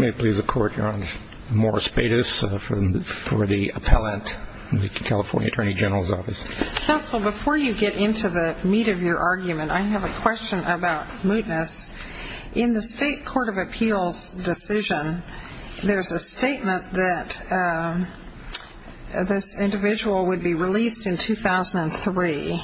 In the State Court of Appeals decision, there is a statement that this individual would be released in 2003.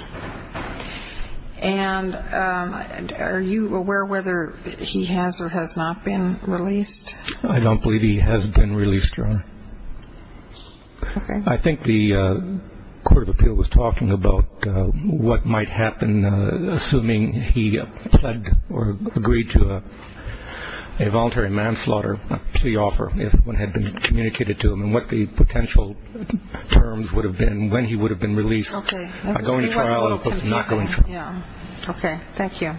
And are you aware whether he has or has not been released? I don't believe he has been released, Your Honor. Okay. I think the Court of Appeals was talking about what might happen assuming he pled or agreed to a voluntary manslaughter, a plea offer if one had been communicated to him, and what the potential terms would have been when he would have been released. Okay. It was a little confusing. Okay. Thank you.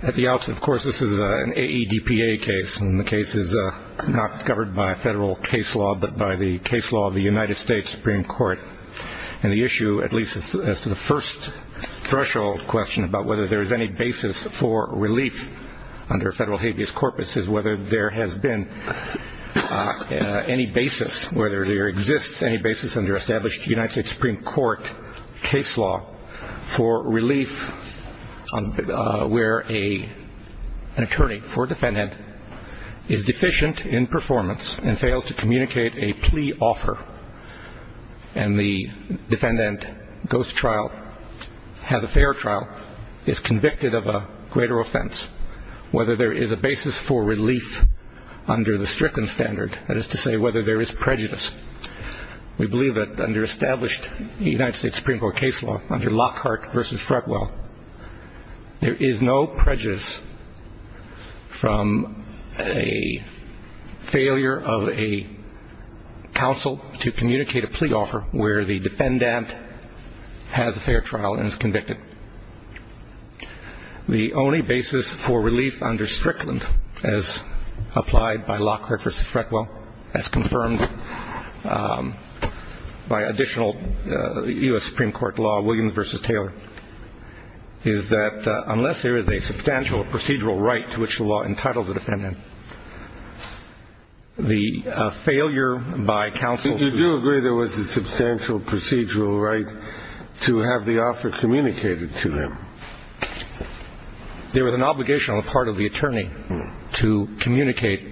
At the outset, of course, this is an AEDPA case, and the case is not covered by federal case law but by the case law of the United States Supreme Court. And the issue, at least as to the first threshold question about whether there is any basis for relief under federal habeas corpus, is whether there has been any basis, whether there exists any basis under established United States Supreme Court case law for relief where an attorney for a defendant is deficient in performance and fails to communicate a plea offer and the defendant goes to trial, has a fair trial, is convicted of a greater offense. Whether there is a basis for relief under the Strickland standard, that is to say whether there is prejudice. We believe that under established United States Supreme Court case law, under Lockhart v. Fretwell, there is no prejudice from a failure of a counsel to communicate a plea offer where the defendant has a fair trial and is convicted. The only basis for relief under Strickland, as applied by Lockhart v. Fretwell, as confirmed by additional U.S. Supreme Court law, Williams v. Taylor, is that unless there is a substantial procedural right to which the law entitles a defendant, the failure by counsel to do so. And there is no procedural right to have the offer communicated to him. There is an obligation on the part of the attorney to communicate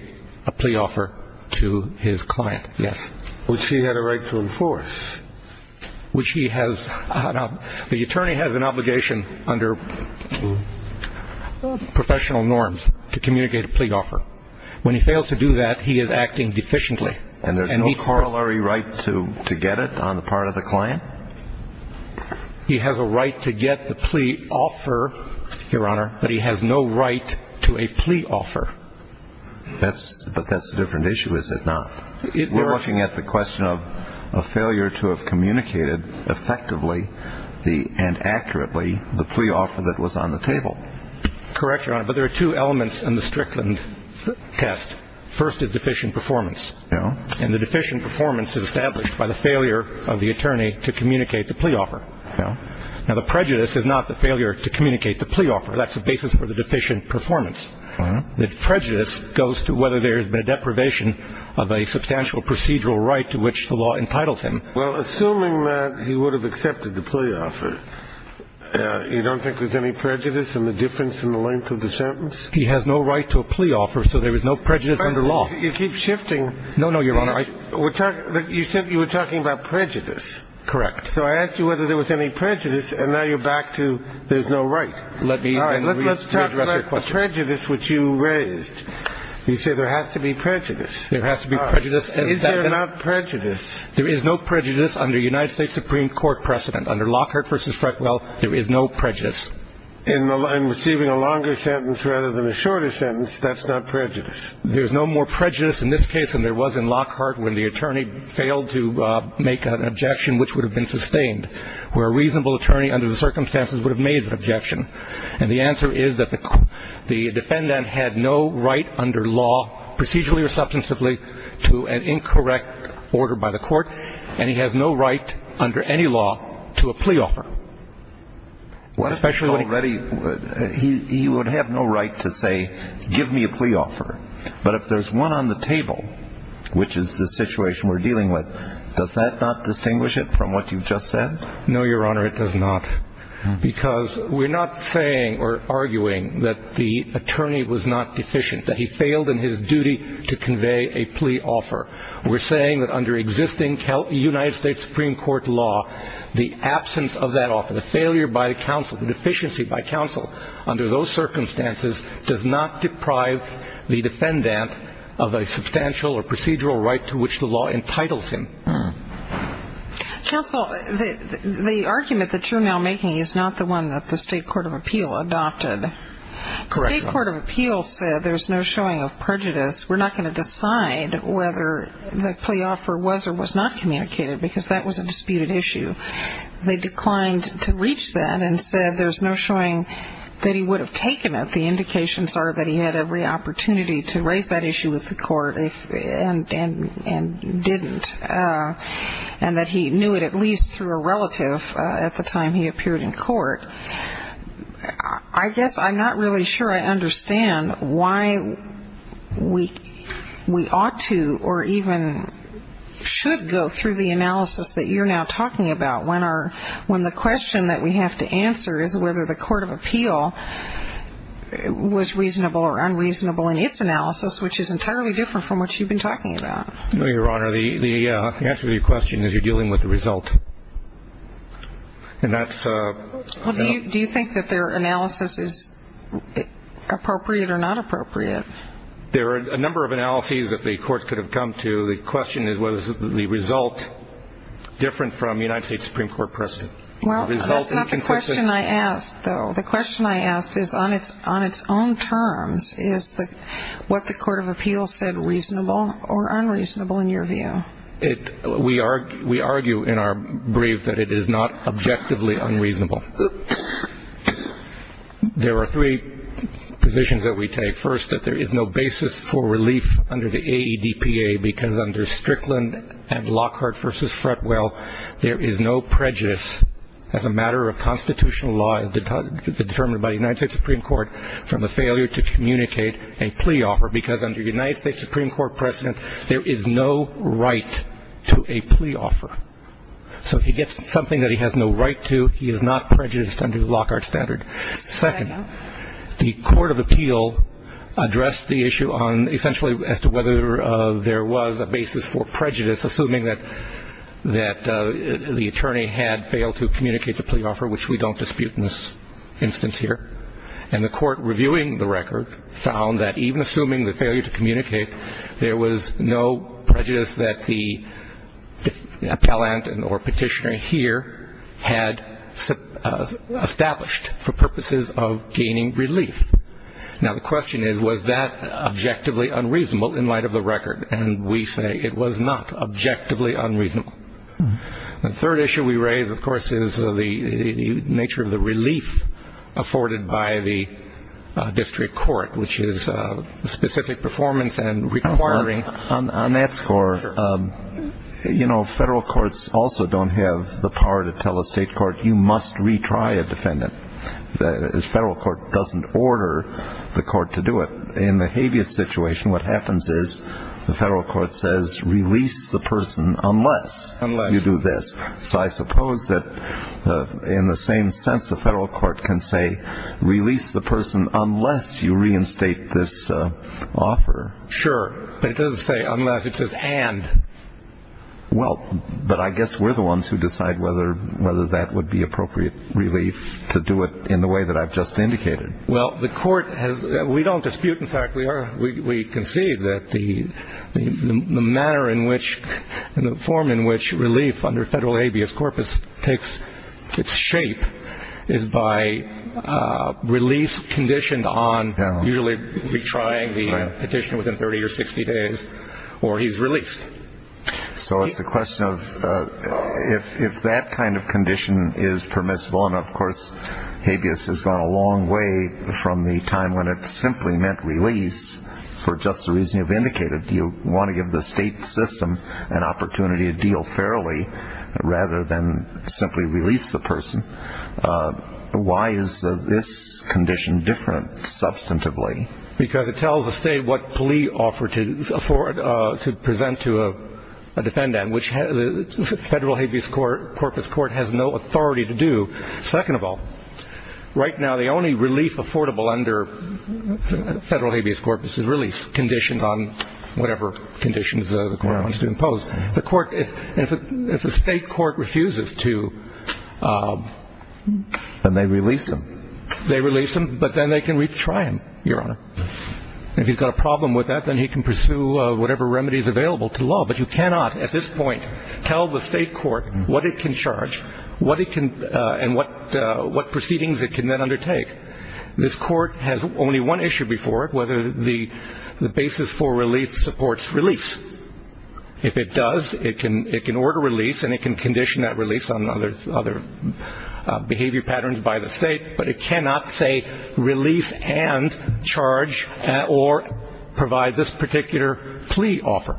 a plea offer to his client. Yes. Which he had a right to enforce. Which he has. Now, the attorney has an obligation under professional norms to communicate a plea offer. When he fails to do that, he is acting deficiently. And there is no corollary right to get it on the part of the client? He has a right to get the plea offer, Your Honor, but he has no right to a plea offer. But that's a different issue, is it not? We're looking at the question of a failure to have communicated effectively and accurately the plea offer that was on the table. Correct, Your Honor. But there are two elements in the Strickland test. First is deficient performance. And the deficient performance is established by the failure of the attorney to communicate the plea offer. Now, the prejudice is not the failure to communicate the plea offer. That's the basis for the deficient performance. The prejudice goes to whether there has been a deprivation of a substantial procedural right to which the law entitles him. Well, assuming that he would have accepted the plea offer, you don't think there's any prejudice in the difference in the length of the sentence? He has no right to a plea offer, so there is no prejudice under law. You keep shifting. No, no, Your Honor. You said you were talking about prejudice. Correct. So I asked you whether there was any prejudice, and now you're back to there's no right. All right. Let's talk about the prejudice which you raised. You say there has to be prejudice. There has to be prejudice. All right. Is there not prejudice? There is no prejudice under United States Supreme Court precedent. Under Lockhart v. Freckwell, there is no prejudice. In receiving a longer sentence rather than a shorter sentence, that's not prejudice? There's no more prejudice in this case than there was in Lockhart when the attorney failed to make an objection which would have been sustained, where a reasonable attorney under the circumstances would have made the objection. And the answer is that the defendant had no right under law, procedurally or substantively, to an incorrect order by the court, and he has no right under any law to a plea offer. He would have no right to say, give me a plea offer. But if there's one on the table, which is the situation we're dealing with, does that not distinguish it from what you just said? No, Your Honor, it does not. Because we're not saying or arguing that the attorney was not deficient, that he failed in his duty to convey a plea offer. We're saying that under existing United States Supreme Court law, the absence of that offer, the failure by counsel, the deficiency by counsel under those circumstances does not deprive the defendant of a substantial or procedural right to which the law entitles him. Counsel, the argument that you're now making is not the one that the State Court of Appeal adopted. Correct, Your Honor. The State Court of Appeal said there's no showing of prejudice. We're not going to decide whether the plea offer was or was not communicated, because that was a disputed issue. They declined to reach that and said there's no showing that he would have taken it. The indications are that he had every opportunity to raise that issue with the court and didn't, and that he knew it at least through a relative at the time he appeared in court. I guess I'm not really sure I understand why we ought to or even should go through the analysis that you're now talking about when the question that we have to answer is whether the court of appeal was reasonable or unreasonable in its analysis, which is entirely different from what you've been talking about. No, Your Honor. The answer to your question is you're dealing with the result. And that's... Well, do you think that their analysis is appropriate or not appropriate? There are a number of analyses that the court could have come to. The question is was the result different from United States Supreme Court precedent. Well, that's not the question I asked, though. The question I asked is on its own terms, is what the court of appeal said reasonable or unreasonable in your view? We argue in our brief that it is not objectively unreasonable. There are three positions that we take. First, that there is no basis for relief under the AEDPA, because under Strickland and Lockhart v. Fretwell, there is no prejudice as a matter of constitutional law determined by the United States Supreme Court from a failure to communicate a plea offer, because under United States Supreme Court precedent, there is no right to a plea offer. So if he gets something that he has no right to, he is not prejudiced under the Lockhart standard. Second, the court of appeal addressed the issue on essentially as to whether there was a basis for prejudice, assuming that the attorney had failed to communicate the plea offer, which we don't dispute in this instance here. And the court reviewing the record found that even assuming the failure to communicate, there was no prejudice that the appellant or petitioner here had established for purposes of gaining relief. Now, the question is, was that objectively unreasonable in light of the record? And we say it was not objectively unreasonable. The third issue we raise, of course, is the nature of the relief afforded by the district court, which is specific performance and requiring. On that score, you know, federal courts also don't have the power to tell a state court, you must retry a defendant. The federal court doesn't order the court to do it. In the habeas situation, what happens is the federal court says, release the person unless you do this. So I suppose that in the same sense, the federal court can say, release the person unless you reinstate this offer. Sure. But it doesn't say unless, it says and. Well, but I guess we're the ones who decide whether that would be appropriate relief to do it in the way that I've just indicated. Well, the court has. We don't dispute. In fact, we are. We concede that the manner in which the form in which relief under federal habeas corpus takes its shape is by release conditioned on usually retrying the petition within 30 or 60 days or he's released. So it's a question of if that kind of condition is permissible. And, of course, habeas has gone a long way from the time when it simply meant release for just the reason you've indicated. You want to give the state system an opportunity to deal fairly rather than simply release the person. Why is this condition different substantively? Because it tells the state what plea offer to afford to present to a defendant, which the federal habeas corpus court has no authority to do. Second of all, right now, the only relief affordable under federal habeas corpus is release conditioned on whatever conditions the court wants to impose. The court, if the state court refuses to. And they release them. They release him, but then they can retry him, Your Honor. If he's got a problem with that, then he can pursue whatever remedies available to law. But you cannot at this point tell the state court what it can charge, what it can and what proceedings it can then undertake. This court has only one issue before it, whether the basis for relief supports release. If it does, it can it can order release and it can condition that release on other other behavior patterns by the state. But it cannot say release and charge or provide this particular plea offer.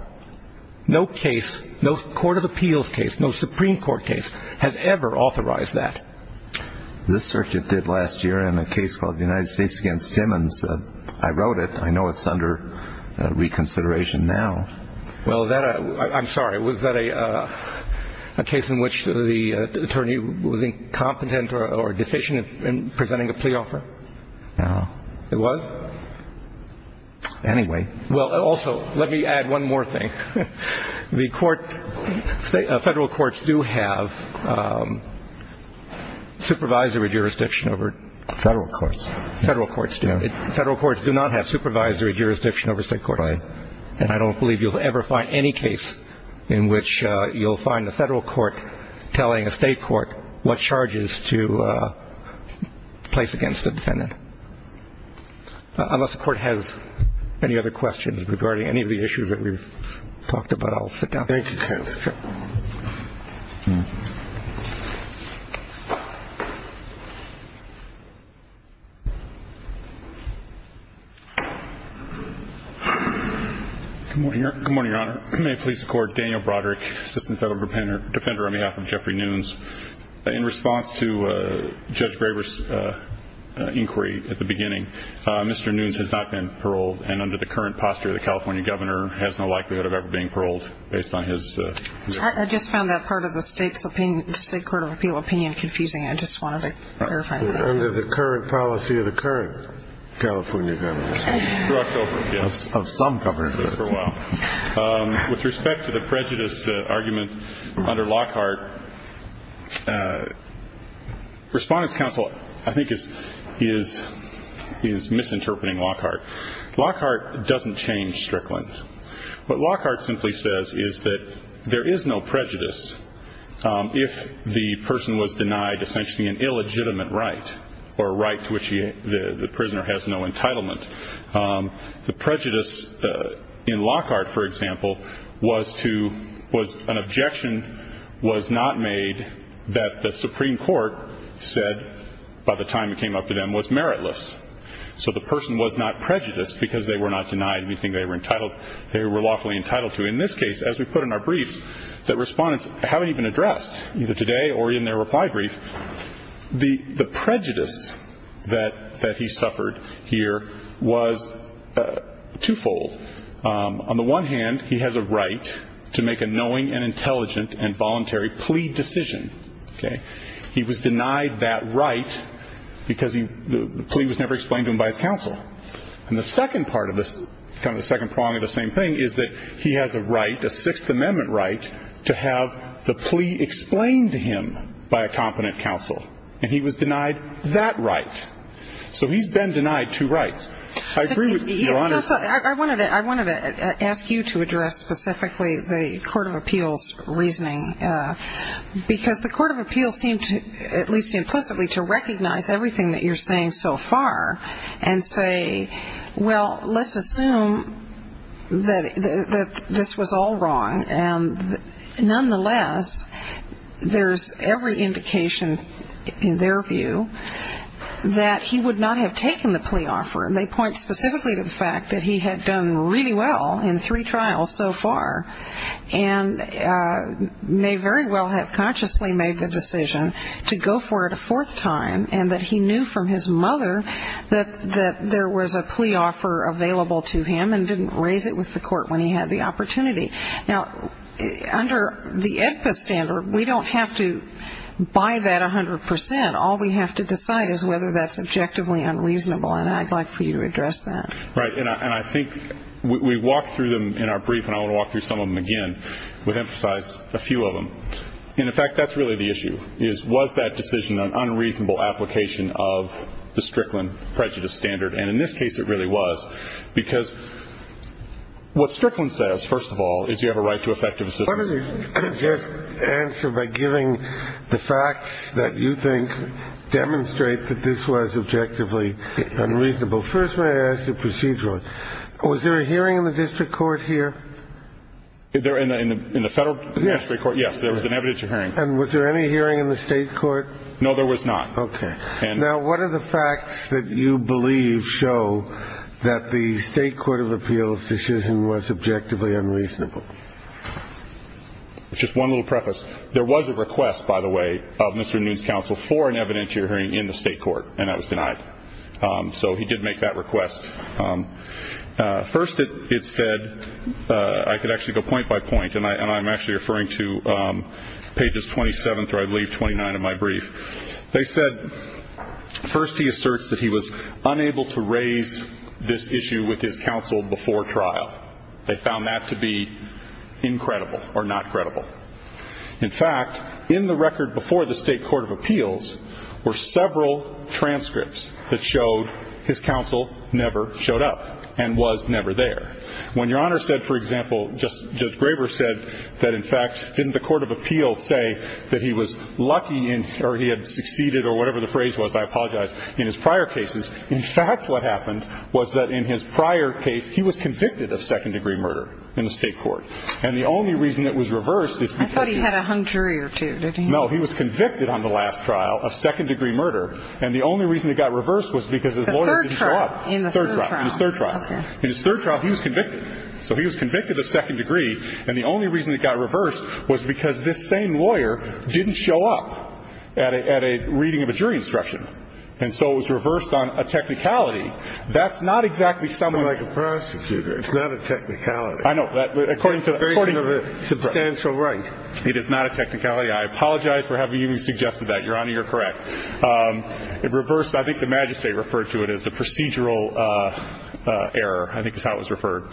No case, no court of appeals case, no Supreme Court case has ever authorized that. This circuit did last year in a case called the United States against Simmons. I wrote it. I know it's under reconsideration now. Well, I'm sorry. Was that a case in which the attorney was incompetent or deficient in presenting a plea offer? No. It was? Anyway. Well, also, let me add one more thing. The court, federal courts do have supervisory jurisdiction over. Federal courts. Federal courts do. Federal courts do not have supervisory jurisdiction over state court. And I don't believe you'll ever find any case in which you'll find the federal court telling a state court what charges to place against the defendant. Unless the court has any other questions regarding any of the issues that we've talked about, I'll sit down. Thank you. Good morning, Your Honor. May it please the Court, Daniel Broderick, Assistant Federal Defender on behalf of Jeffrey Nunes. In response to Judge Graber's inquiry at the beginning, Mr. Nunes has not been paroled, and under the current posture, the California governor has no likelihood of ever being paroled based on his. I just found that part of the state's opinion, the State Court of Appeal opinion, confusing. I just wanted to clarify that. Under the current policy of the current California governor. Of some governors. With respect to the prejudice argument under Lockhart, Respondents' Counsel, I think, is misinterpreting Lockhart. Lockhart doesn't change Strickland. What Lockhart simply says is that there is no prejudice if the person was denied essentially an illegitimate right, or a right to which the prisoner has no entitlement. The prejudice in Lockhart, for example, was an objection was not made that the Supreme Court said by the time it came up to them was meritless. So the person was not prejudiced because they were not denied anything they were entitled, they were lawfully entitled to. In this case, as we put in our brief, that Respondents haven't even addressed, either today or in their reply brief, the prejudice that he suffered here was twofold. On the one hand, he has a right to make a knowing and intelligent and voluntary plea decision. He was denied that right because the plea was never explained to him by his counsel. And the second part of this, kind of the second prong of the same thing, is that he has a right, a Sixth Amendment right, to have the plea explained to him by a competent counsel. And he was denied that right. So he's been denied two rights. I agree with Your Honor. I wanted to ask you to address specifically the Court of Appeals' reasoning. Because the Court of Appeals seemed to, at least implicitly, to recognize everything that you're saying so far and say, well, let's assume that this was all wrong. And nonetheless, there's every indication, in their view, that he would not have taken the plea offer. They point specifically to the fact that he had done really well in three trials so far and may very well have consciously made the decision to go for it a fourth time and that he knew from his mother that there was a plea offer available to him and didn't raise it with the court when he had the opportunity. Now, under the AEDPA standard, we don't have to buy that 100%. All we have to decide is whether that's objectively unreasonable. And I'd like for you to address that. Right. And I think we walked through them in our brief, and I want to walk through some of them again. We've emphasized a few of them. And, in fact, that's really the issue is, was that decision an unreasonable application of the Strickland prejudice standard? And in this case, it really was. Because what Strickland says, first of all, is you have a right to effective assistance. Let me just answer by giving the facts that you think demonstrate that this was objectively unreasonable. First, may I ask you procedurally, was there a hearing in the district court here? In the federal district court, yes, there was an evidentiary hearing. And was there any hearing in the state court? No, there was not. Okay. Now, what are the facts that you believe show that the state court of appeals decision was objectively unreasonable? Just one little preface. There was a request, by the way, of Mr. Nunes' counsel for an evidentiary hearing in the state court, and that was denied. So he did make that request. First, it said I could actually go point by point, and I'm actually referring to pages 27 through, I believe, 29 of my brief. They said first he asserts that he was unable to raise this issue with his counsel before trial. They found that to be incredible or not credible. In fact, in the record before the state court of appeals were several transcripts that showed his counsel never showed up and was never there. When Your Honor said, for example, Judge Graber said that, in fact, didn't the court of appeals say that he was lucky or he had succeeded or whatever the phrase was? I apologize. In his prior cases, in fact, what happened was that in his prior case he was convicted of second-degree murder in the state court. And the only reason it was reversed is because he was convicted on the last trial of second-degree murder. And the only reason it got reversed was because his lawyer didn't show up. In the third trial. In his third trial. Okay. In his third trial, he was convicted. So he was convicted of second-degree, and the only reason it got reversed was because this same lawyer didn't show up at a reading of a jury instruction. And so it was reversed on a technicality. That's not exactly something like a prosecutor. It's not a technicality. I know. According to a very substantial rank. It is not a technicality. I apologize for having even suggested that. Your Honor, you're correct. It reversed. I think the magistrate referred to it as a procedural error. I think that's how it was referred.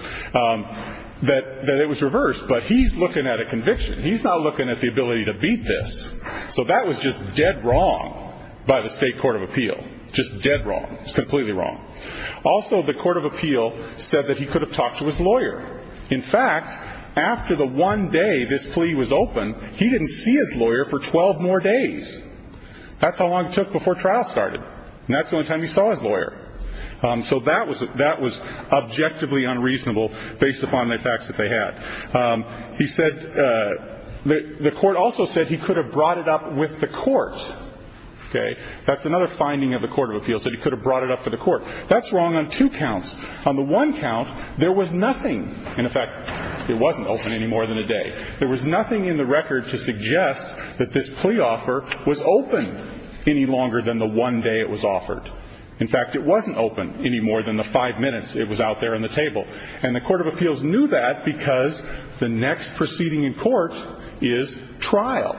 That it was reversed. But he's looking at a conviction. He's not looking at the ability to beat this. So that was just dead wrong by the state court of appeal. Just dead wrong. It's completely wrong. Also, the court of appeal said that he could have talked to his lawyer. In fact, after the one day this plea was opened, he didn't see his lawyer for 12 more days. That's how long it took before trial started. And that's the only time he saw his lawyer. So that was objectively unreasonable based upon the facts that they had. He said the court also said he could have brought it up with the court. That's another finding of the court of appeal, that he could have brought it up with the court. That's wrong on two counts. On the one count, there was nothing. In fact, it wasn't open any more than a day. There was nothing in the record to suggest that this plea offer was open any longer than the one day it was offered. In fact, it wasn't open any more than the five minutes it was out there on the table. And the court of appeals knew that because the next proceeding in court is trial.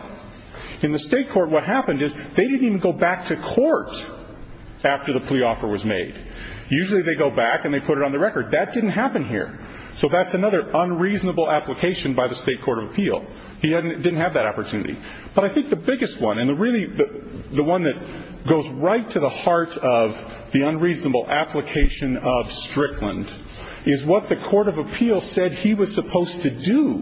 In the state court, what happened is they didn't even go back to court after the plea offer was made. Usually they go back and they put it on the record. That didn't happen here. So that's another unreasonable application by the state court of appeal. He didn't have that opportunity. But I think the biggest one, and really the one that goes right to the heart of the unreasonable application of Strickland, is what the court of appeal said he was supposed to do.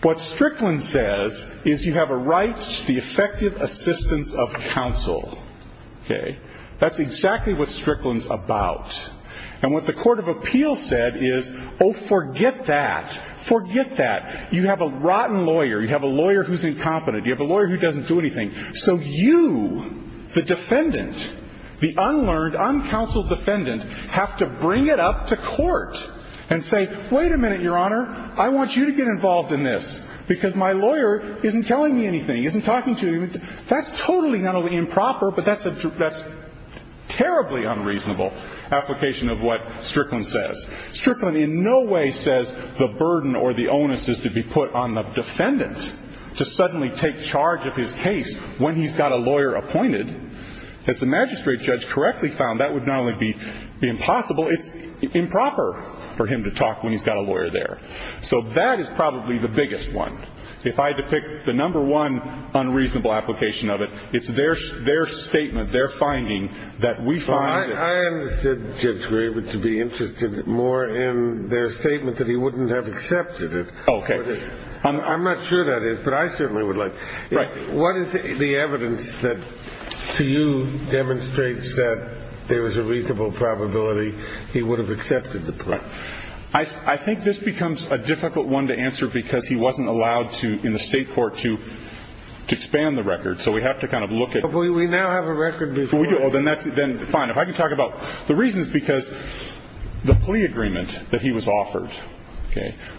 What Strickland says is you have a right to the effective assistance of counsel. That's exactly what Strickland's about. And what the court of appeal said is, oh, forget that. Forget that. You have a rotten lawyer. You have a lawyer who's incompetent. You have a lawyer who doesn't do anything. So you, the defendant, the unlearned, uncounseled defendant, have to bring it up to court and say, wait a minute, Your Honor. I want you to get involved in this because my lawyer isn't telling me anything, isn't talking to me. That's totally not only improper, but that's terribly unreasonable. Application of what Strickland says. Strickland in no way says the burden or the onus is to be put on the defendant to suddenly take charge of his case when he's got a lawyer appointed. As the magistrate judge correctly found, that would not only be impossible, it's improper for him to talk when he's got a lawyer there. So that is probably the biggest one. If I had to pick the number one unreasonable application of it, it's their statement, their finding, that we find it. I understood Judge Graber to be interested more in their statement that he wouldn't have accepted it. OK. I'm not sure that is, but I certainly would like. What is the evidence that to you demonstrates that there was a reasonable probability he would have accepted the. I think this becomes a difficult one to answer because he wasn't allowed to in the state court to expand the record. So we have to kind of look at. We now have a record before. Oh, then that's fine. If I can talk about the reasons because the plea agreement that he was offered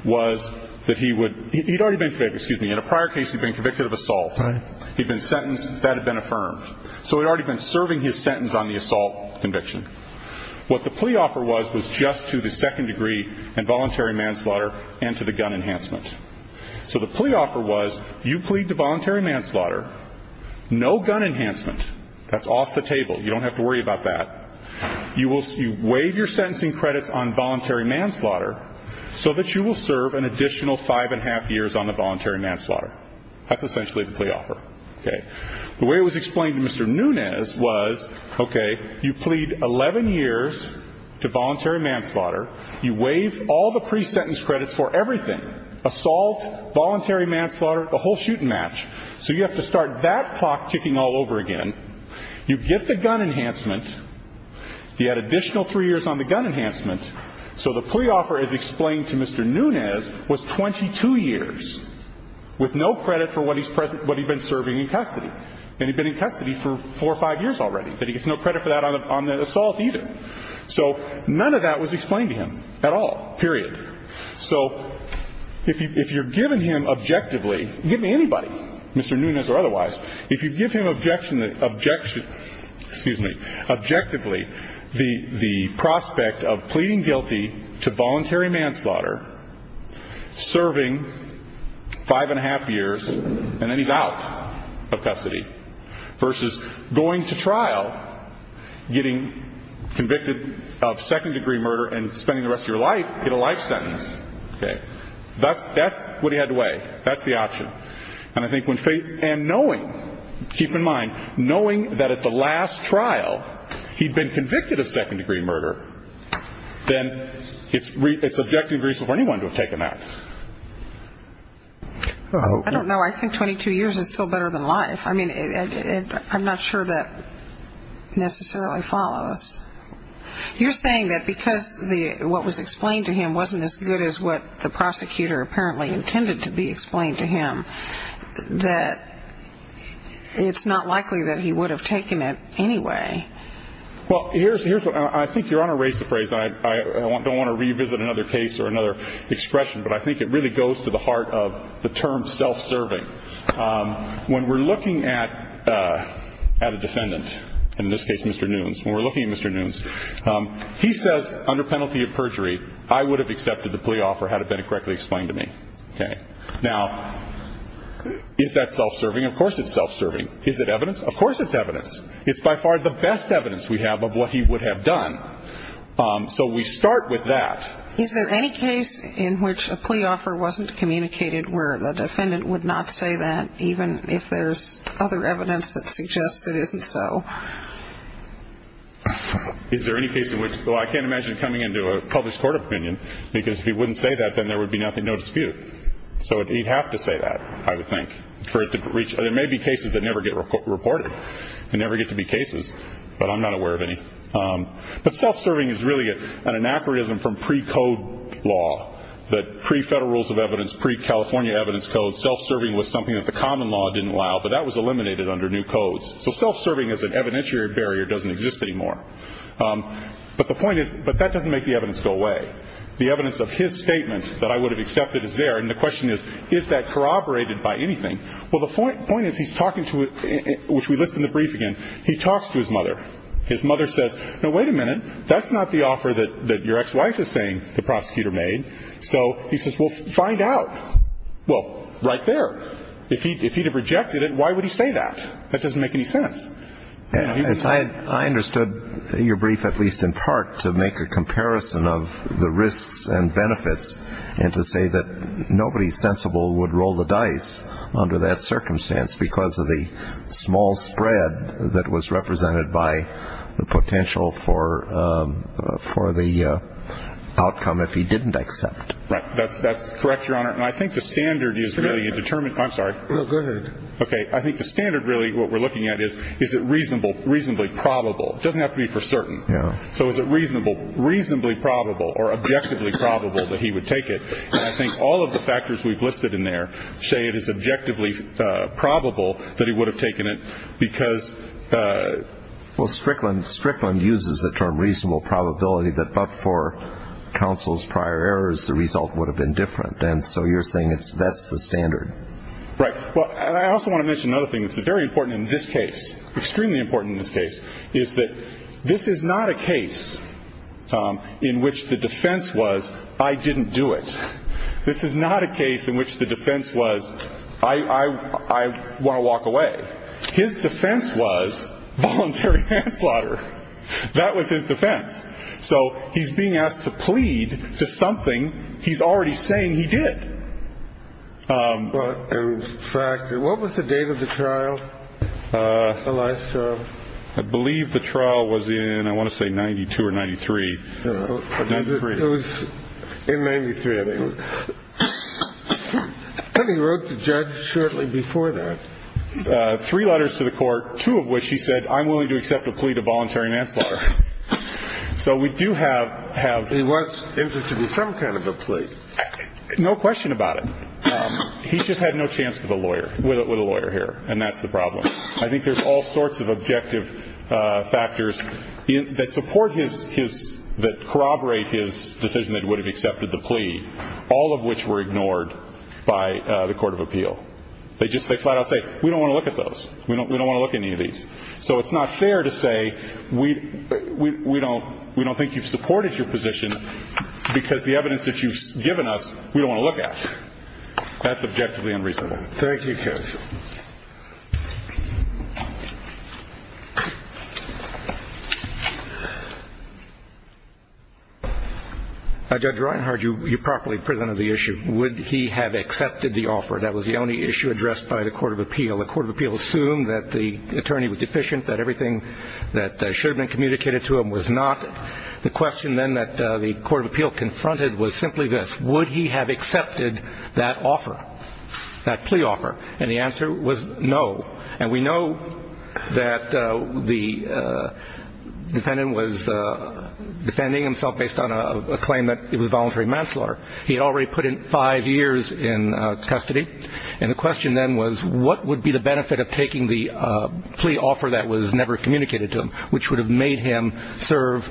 was that he would. He'd already been. Excuse me. In a prior case, he'd been convicted of assault. He'd been sentenced. That had been affirmed. So he'd already been serving his sentence on the assault conviction. What the plea offer was was just to the second degree and voluntary manslaughter and to the gun enhancement. So the plea offer was you plead to voluntary manslaughter, no gun enhancement. That's off the table. You don't have to worry about that. You will. You waive your sentencing credits on voluntary manslaughter so that you will serve an additional five and a half years on a voluntary manslaughter. That's essentially the plea offer. OK. The way it was explained to Mr. Nunez was, OK, you plead 11 years to voluntary manslaughter. You waive all the pre-sentence credits for everything. Assault, voluntary manslaughter, the whole shoot and match. So you have to start that clock ticking all over again. You get the gun enhancement. You add additional three years on the gun enhancement. So the plea offer as explained to Mr. Nunez was 22 years with no credit for what he's been serving in custody. And he'd been in custody for four or five years already. But he gets no credit for that on the assault either. So none of that was explained to him at all, period. So if you're giving him objectively, giving anybody, Mr. Nunez or otherwise, if you give him objection, excuse me, objectively the prospect of pleading guilty to voluntary manslaughter, serving five and a half years, and then he's out of custody, versus going to trial, getting convicted of second-degree murder, and spending the rest of your life in a life sentence. OK. That's what he had to weigh. That's the option. And I think when faith and knowing, keep in mind, knowing that at the last trial he'd been convicted of second-degree murder, then it's objective reason for anyone to have taken that. I don't know. I think 22 years is still better than life. I mean, I'm not sure that necessarily follows. You're saying that because what was explained to him wasn't as good as what the prosecutor apparently intended to be explained to him, that it's not likely that he would have taken it anyway. Well, here's what I think Your Honor raised the phrase. I don't want to revisit another case or another expression, but I think it really goes to the heart of the term self-serving. When we're looking at a defendant, in this case Mr. Nunes, when we're looking at Mr. Nunes, he says under penalty of perjury, I would have accepted the plea offer had it been correctly explained to me. OK. Now, is that self-serving? Of course it's self-serving. Is it evidence? Of course it's evidence. It's by far the best evidence we have of what he would have done. So we start with that. Is there any case in which a plea offer wasn't communicated where the defendant would not say that, even if there's other evidence that suggests it isn't so? Is there any case in which, well, I can't imagine coming into a published court opinion, because if he wouldn't say that, then there would be nothing, no dispute. So he'd have to say that, I would think, for it to reach. There may be cases that never get reported. They never get to be cases, but I'm not aware of any. But self-serving is really an anachronism from pre-code law, that pre-federal rules of evidence, pre-California evidence codes, self-serving was something that the common law didn't allow, but that was eliminated under new codes. So self-serving as an evidentiary barrier doesn't exist anymore. But the point is, but that doesn't make the evidence go away. The evidence of his statement that I would have accepted is there, and the question is, is that corroborated by anything? Well, the point is he's talking to, which we list in the brief again, he talks to his mother. His mother says, no, wait a minute. That's not the offer that your ex-wife is saying the prosecutor made. So he says, well, find out. Well, right there. If he'd have rejected it, why would he say that? That doesn't make any sense. I understood your brief, at least in part, to make a comparison of the risks and benefits and to say that nobody sensible would roll the dice under that circumstance because of the small spread that was represented by the potential for the outcome if he didn't accept. Right. That's correct, Your Honor. And I think the standard is really determined. I'm sorry. No, go ahead. Okay. I think the standard, really, what we're looking at is, is it reasonable, reasonably probable? It doesn't have to be for certain. Yeah. So is it reasonable? Reasonably probable or objectively probable that he would take it. And I think all of the factors we've listed in there say it is objectively probable that he would have taken it because... Well, Strickland uses the term reasonable probability that but for counsel's prior errors, the result would have been different. And so you're saying that's the standard. Right. Well, I also want to mention another thing that's very important in this case, extremely important in this case, is that this is not a case in which the defense was, I didn't do it. This is not a case in which the defense was, I want to walk away. His defense was voluntary manslaughter. That was his defense. So he's being asked to plead to something he's already saying he did. In fact, what was the date of the trial? I believe the trial was in, I want to say, 92 or 93. It was in 93, I think. He wrote the judge shortly before that. Three letters to the court, two of which he said, I'm willing to accept a plea to voluntary manslaughter. So we do have... He was interested in some kind of a plea. No question about it. He just had no chance with a lawyer here, and that's the problem. I think there's all sorts of objective factors that corroborate his decision that he would have accepted the plea, all of which were ignored by the court of appeal. They just flat out say, we don't want to look at those. We don't want to look at any of these. So it's not fair to say we don't think you've supported your position because the evidence that you've given us we don't want to look at. That's objectively unreasonable. Thank you, Judge. Judge Reinhard, you properly presented the issue. Would he have accepted the offer? That was the only issue addressed by the court of appeal. The court of appeal assumed that the attorney was deficient, that everything that should have been communicated to him was not. The question then that the court of appeal confronted was simply this. Would he have accepted that offer, that plea offer? And the answer was no. And we know that the defendant was defending himself based on a claim that it was voluntary manslaughter. He had already put in five years in custody, and the question then was what would be the benefit of taking the plea offer that was never communicated to him, which would have made him serve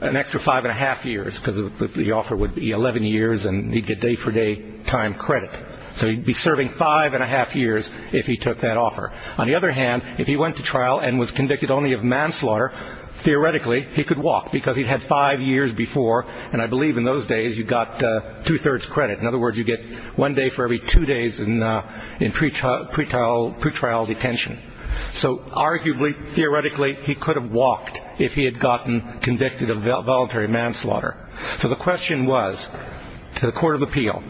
an extra five and a half years because the offer would be 11 years and he'd get day for day time credit. So he'd be serving five and a half years if he took that offer. On the other hand, if he went to trial and was convicted only of manslaughter, theoretically he could walk because he'd had five years before, and I believe in those days you got two-thirds credit. In other words, you get one day for every two days in pretrial detention. So arguably, theoretically, he could have walked if he had gotten convicted of voluntary manslaughter. So the question was to the court of appeal,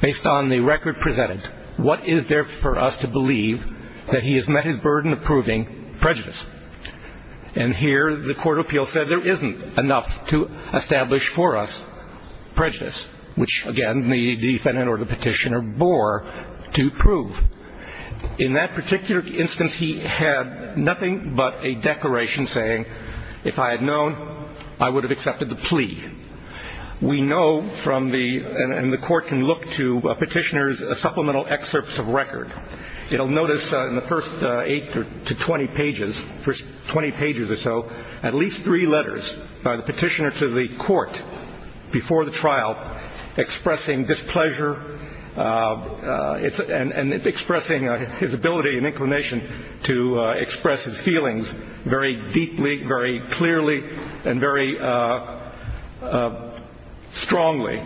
based on the record presented, what is there for us to believe that he has met his burden of proving prejudice? And here the court of appeal said there isn't enough to establish for us prejudice, which, again, the defendant or the petitioner bore to prove. In that particular instance, he had nothing but a declaration saying, if I had known, I would have accepted the plea. We know from the ñ and the court can look to a petitioner's supplemental excerpts of record. It'll notice in the first eight to 20 pages, first 20 pages or so, at least three letters by the petitioner to the court before the trial expressing displeasure and expressing his ability and inclination to express his feelings very deeply, very clearly, and very strongly.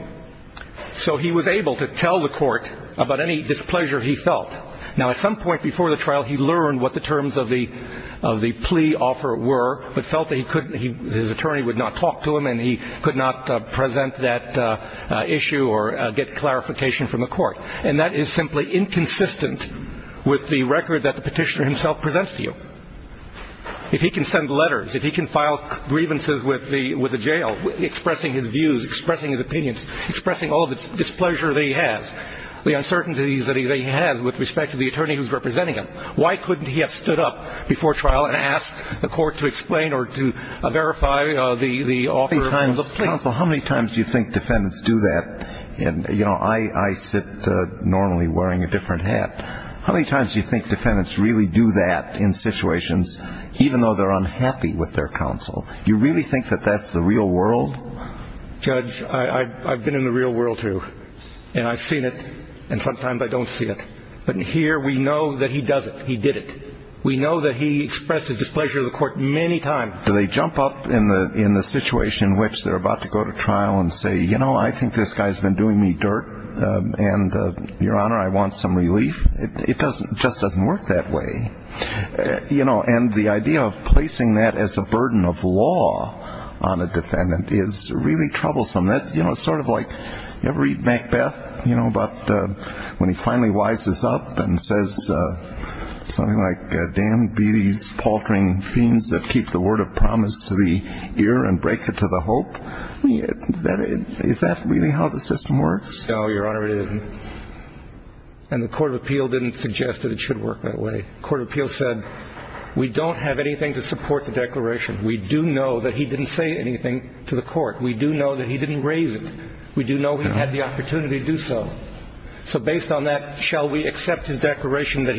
So he was able to tell the court about any displeasure he felt. Now, at some point before the trial, he learned what the terms of the plea offer were, but felt that he couldn't ñ his attorney would not talk to him and he could not present that issue or get clarification from the court. And that is simply inconsistent with the record that the petitioner himself presents to you. If he can send letters, if he can file grievances with the ñ with the jail expressing his views, expressing his opinions, expressing all of the displeasure that he has, the uncertainties that he has with respect to the attorney who's representing him, why couldn't he have stood up before trial and asked the court to explain or to verify the offer of the plea? Counsel, how many times do you think defendants do that? And, you know, I sit normally wearing a different hat. How many times do you think defendants really do that in situations, even though they're unhappy with their counsel? Do you really think that that's the real world? Judge, I've been in the real world, too, and I've seen it, and sometimes I don't see it. But here we know that he does it. He did it. We know that he expressed his displeasure to the court many times. Do they jump up in the ñ in the situation in which they're about to go to trial and say, you know, I think this guy's been doing me dirt, and, Your Honor, I want some relief? It doesn't ñ it just doesn't work that way. You know, and the idea of placing that as a burden of law on a defendant is really troublesome. That's, you know, sort of like ñ you ever read Macbeth, you know, about when he finally wises up and says something like, damned be these paltering fiends that keep the word of promise to the ear and break it to the hope? I mean, is that really how the system works? No, Your Honor, it isn't. And the court of appeal didn't suggest that it should work that way. The court of appeal said, we don't have anything to support the declaration. We do know that he didn't say anything to the court. We do know that he didn't raise it. We do know he had the opportunity to do so. So based on that, shall we accept his declaration that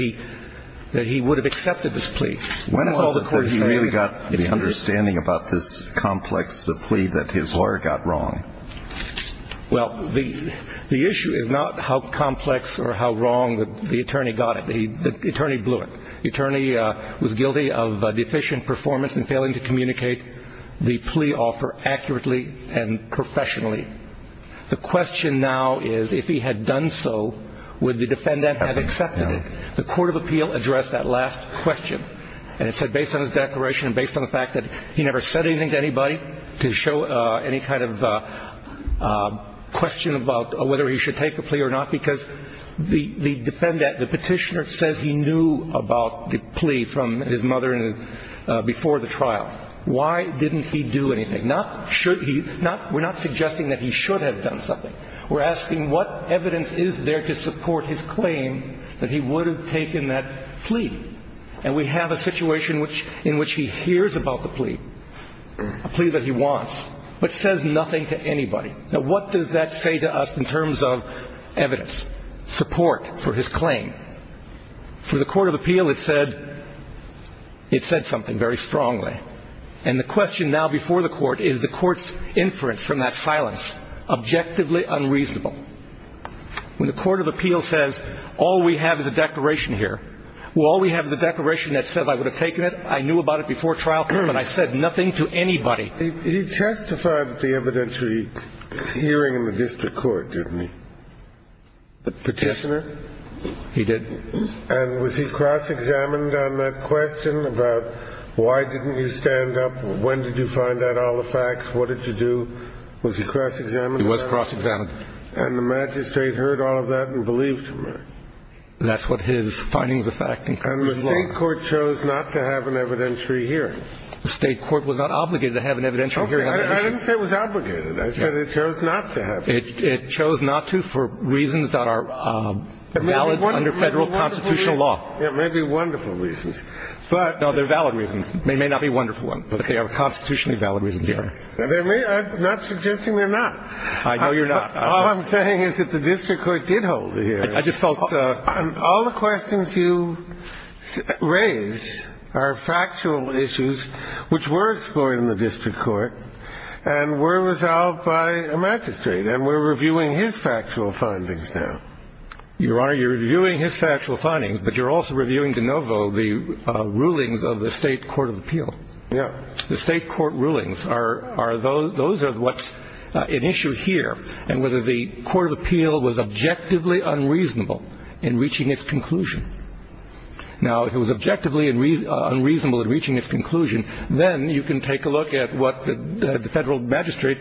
he would have accepted this plea? When was it that he really got the understanding about this complex plea that his lawyer got wrong? Well, the issue is not how complex or how wrong the attorney got it. The attorney blew it. The attorney was guilty of deficient performance and failing to communicate the plea offer accurately and professionally. The question now is, if he had done so, would the defendant have accepted it? The court of appeal addressed that last question. And it said, based on his declaration and based on the fact that he never said anything to anybody to show any kind of question about whether he should take the plea or not, because the petitioner says he knew about the plea from his mother before the trial. Why didn't he do anything? We're not suggesting that he should have done something. We're asking what evidence is there to support his claim that he would have taken that plea. And we have a situation in which he hears about the plea, a plea that he wants, but says nothing to anybody. Now, what does that say to us in terms of evidence, support for his claim? For the court of appeal, it said something very strongly. And the question now before the court is the court's inference from that silence objectively unreasonable. When the court of appeal says all we have is a declaration here, well, all we have is a declaration that says I would have taken it, I knew about it before trial, and I said nothing to anybody. He testified at the evidentiary hearing in the district court, didn't he? The petitioner? He did. And was he cross-examined on that question about why didn't you stand up, when did you find out all the facts, what did you do? Was he cross-examined on that? He was cross-examined. And the magistrate heard all of that and believed him, right? That's what his findings affect. And the state court chose not to have an evidentiary hearing. The state court was not obligated to have an evidentiary hearing. Okay. I didn't say it was obligated. I said it chose not to have an evidentiary hearing. It chose not to for reasons that are valid under Federal constitutional law. It may be wonderful reasons. No, they're valid reasons. They may not be wonderful ones, but they are constitutionally valid reasons. Sure. I'm not suggesting they're not. I know you're not. All I'm saying is that the district court did hold a hearing. All the questions you raise are factual issues which were explored in the district court and were resolved by a magistrate. And we're reviewing his factual findings now. Your Honor, you're reviewing his factual findings, but you're also reviewing de novo the rulings of the state court of appeal. Yeah. The state court rulings, those are what's at issue here. And whether the court of appeal was objectively unreasonable in reaching its conclusion. Now, if it was objectively unreasonable in reaching its conclusion, then you can take a look at what the Federal magistrate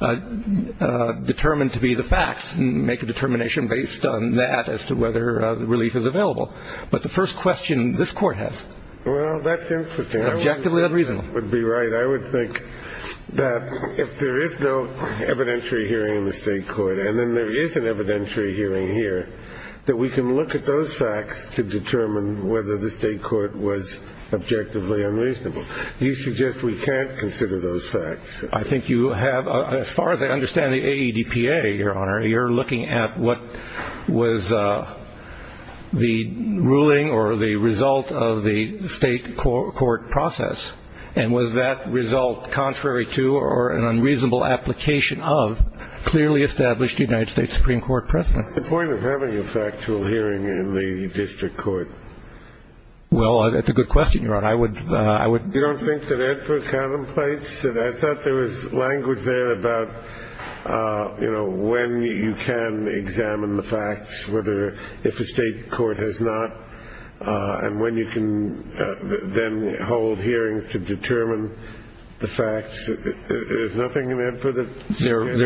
determined to be the facts and make a determination based on that as to whether relief is available. But the first question this court has. Well, that's interesting. Objectively unreasonable. That would be right. I would think that if there is no evidentiary hearing in the state court and then there is an evidentiary hearing here, that we can look at those facts to determine whether the state court was objectively unreasonable. You suggest we can't consider those facts. I think you have. As far as I understand the AEDPA, Your Honor, you're looking at what was the ruling or the result of the state court process. And was that result contrary to or an unreasonable application of clearly established United States Supreme Court precedent? The point of having a factual hearing in the district court. Well, that's a good question, Your Honor. You don't think that AEDPA contemplates that? I thought there was language there about, you know, when you can examine the facts, if a state court has not, and when you can then hold hearings to determine the facts. There's nothing in that for the state court?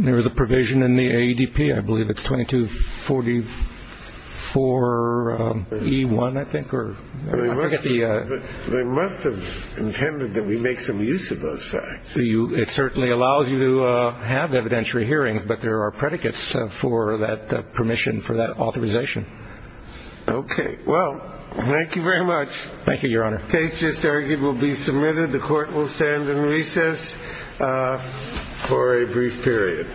There is a provision in the AEDP. I believe it's 2244E1, I think, or I forget the ‑‑ They must have intended that we make some use of those facts. It certainly allows you to have evidentiary hearings, but there are predicates for that permission, for that authorization. Okay. Well, thank you very much. Thank you, Your Honor. The case just argued will be submitted. The court will stand in recess for a brief period.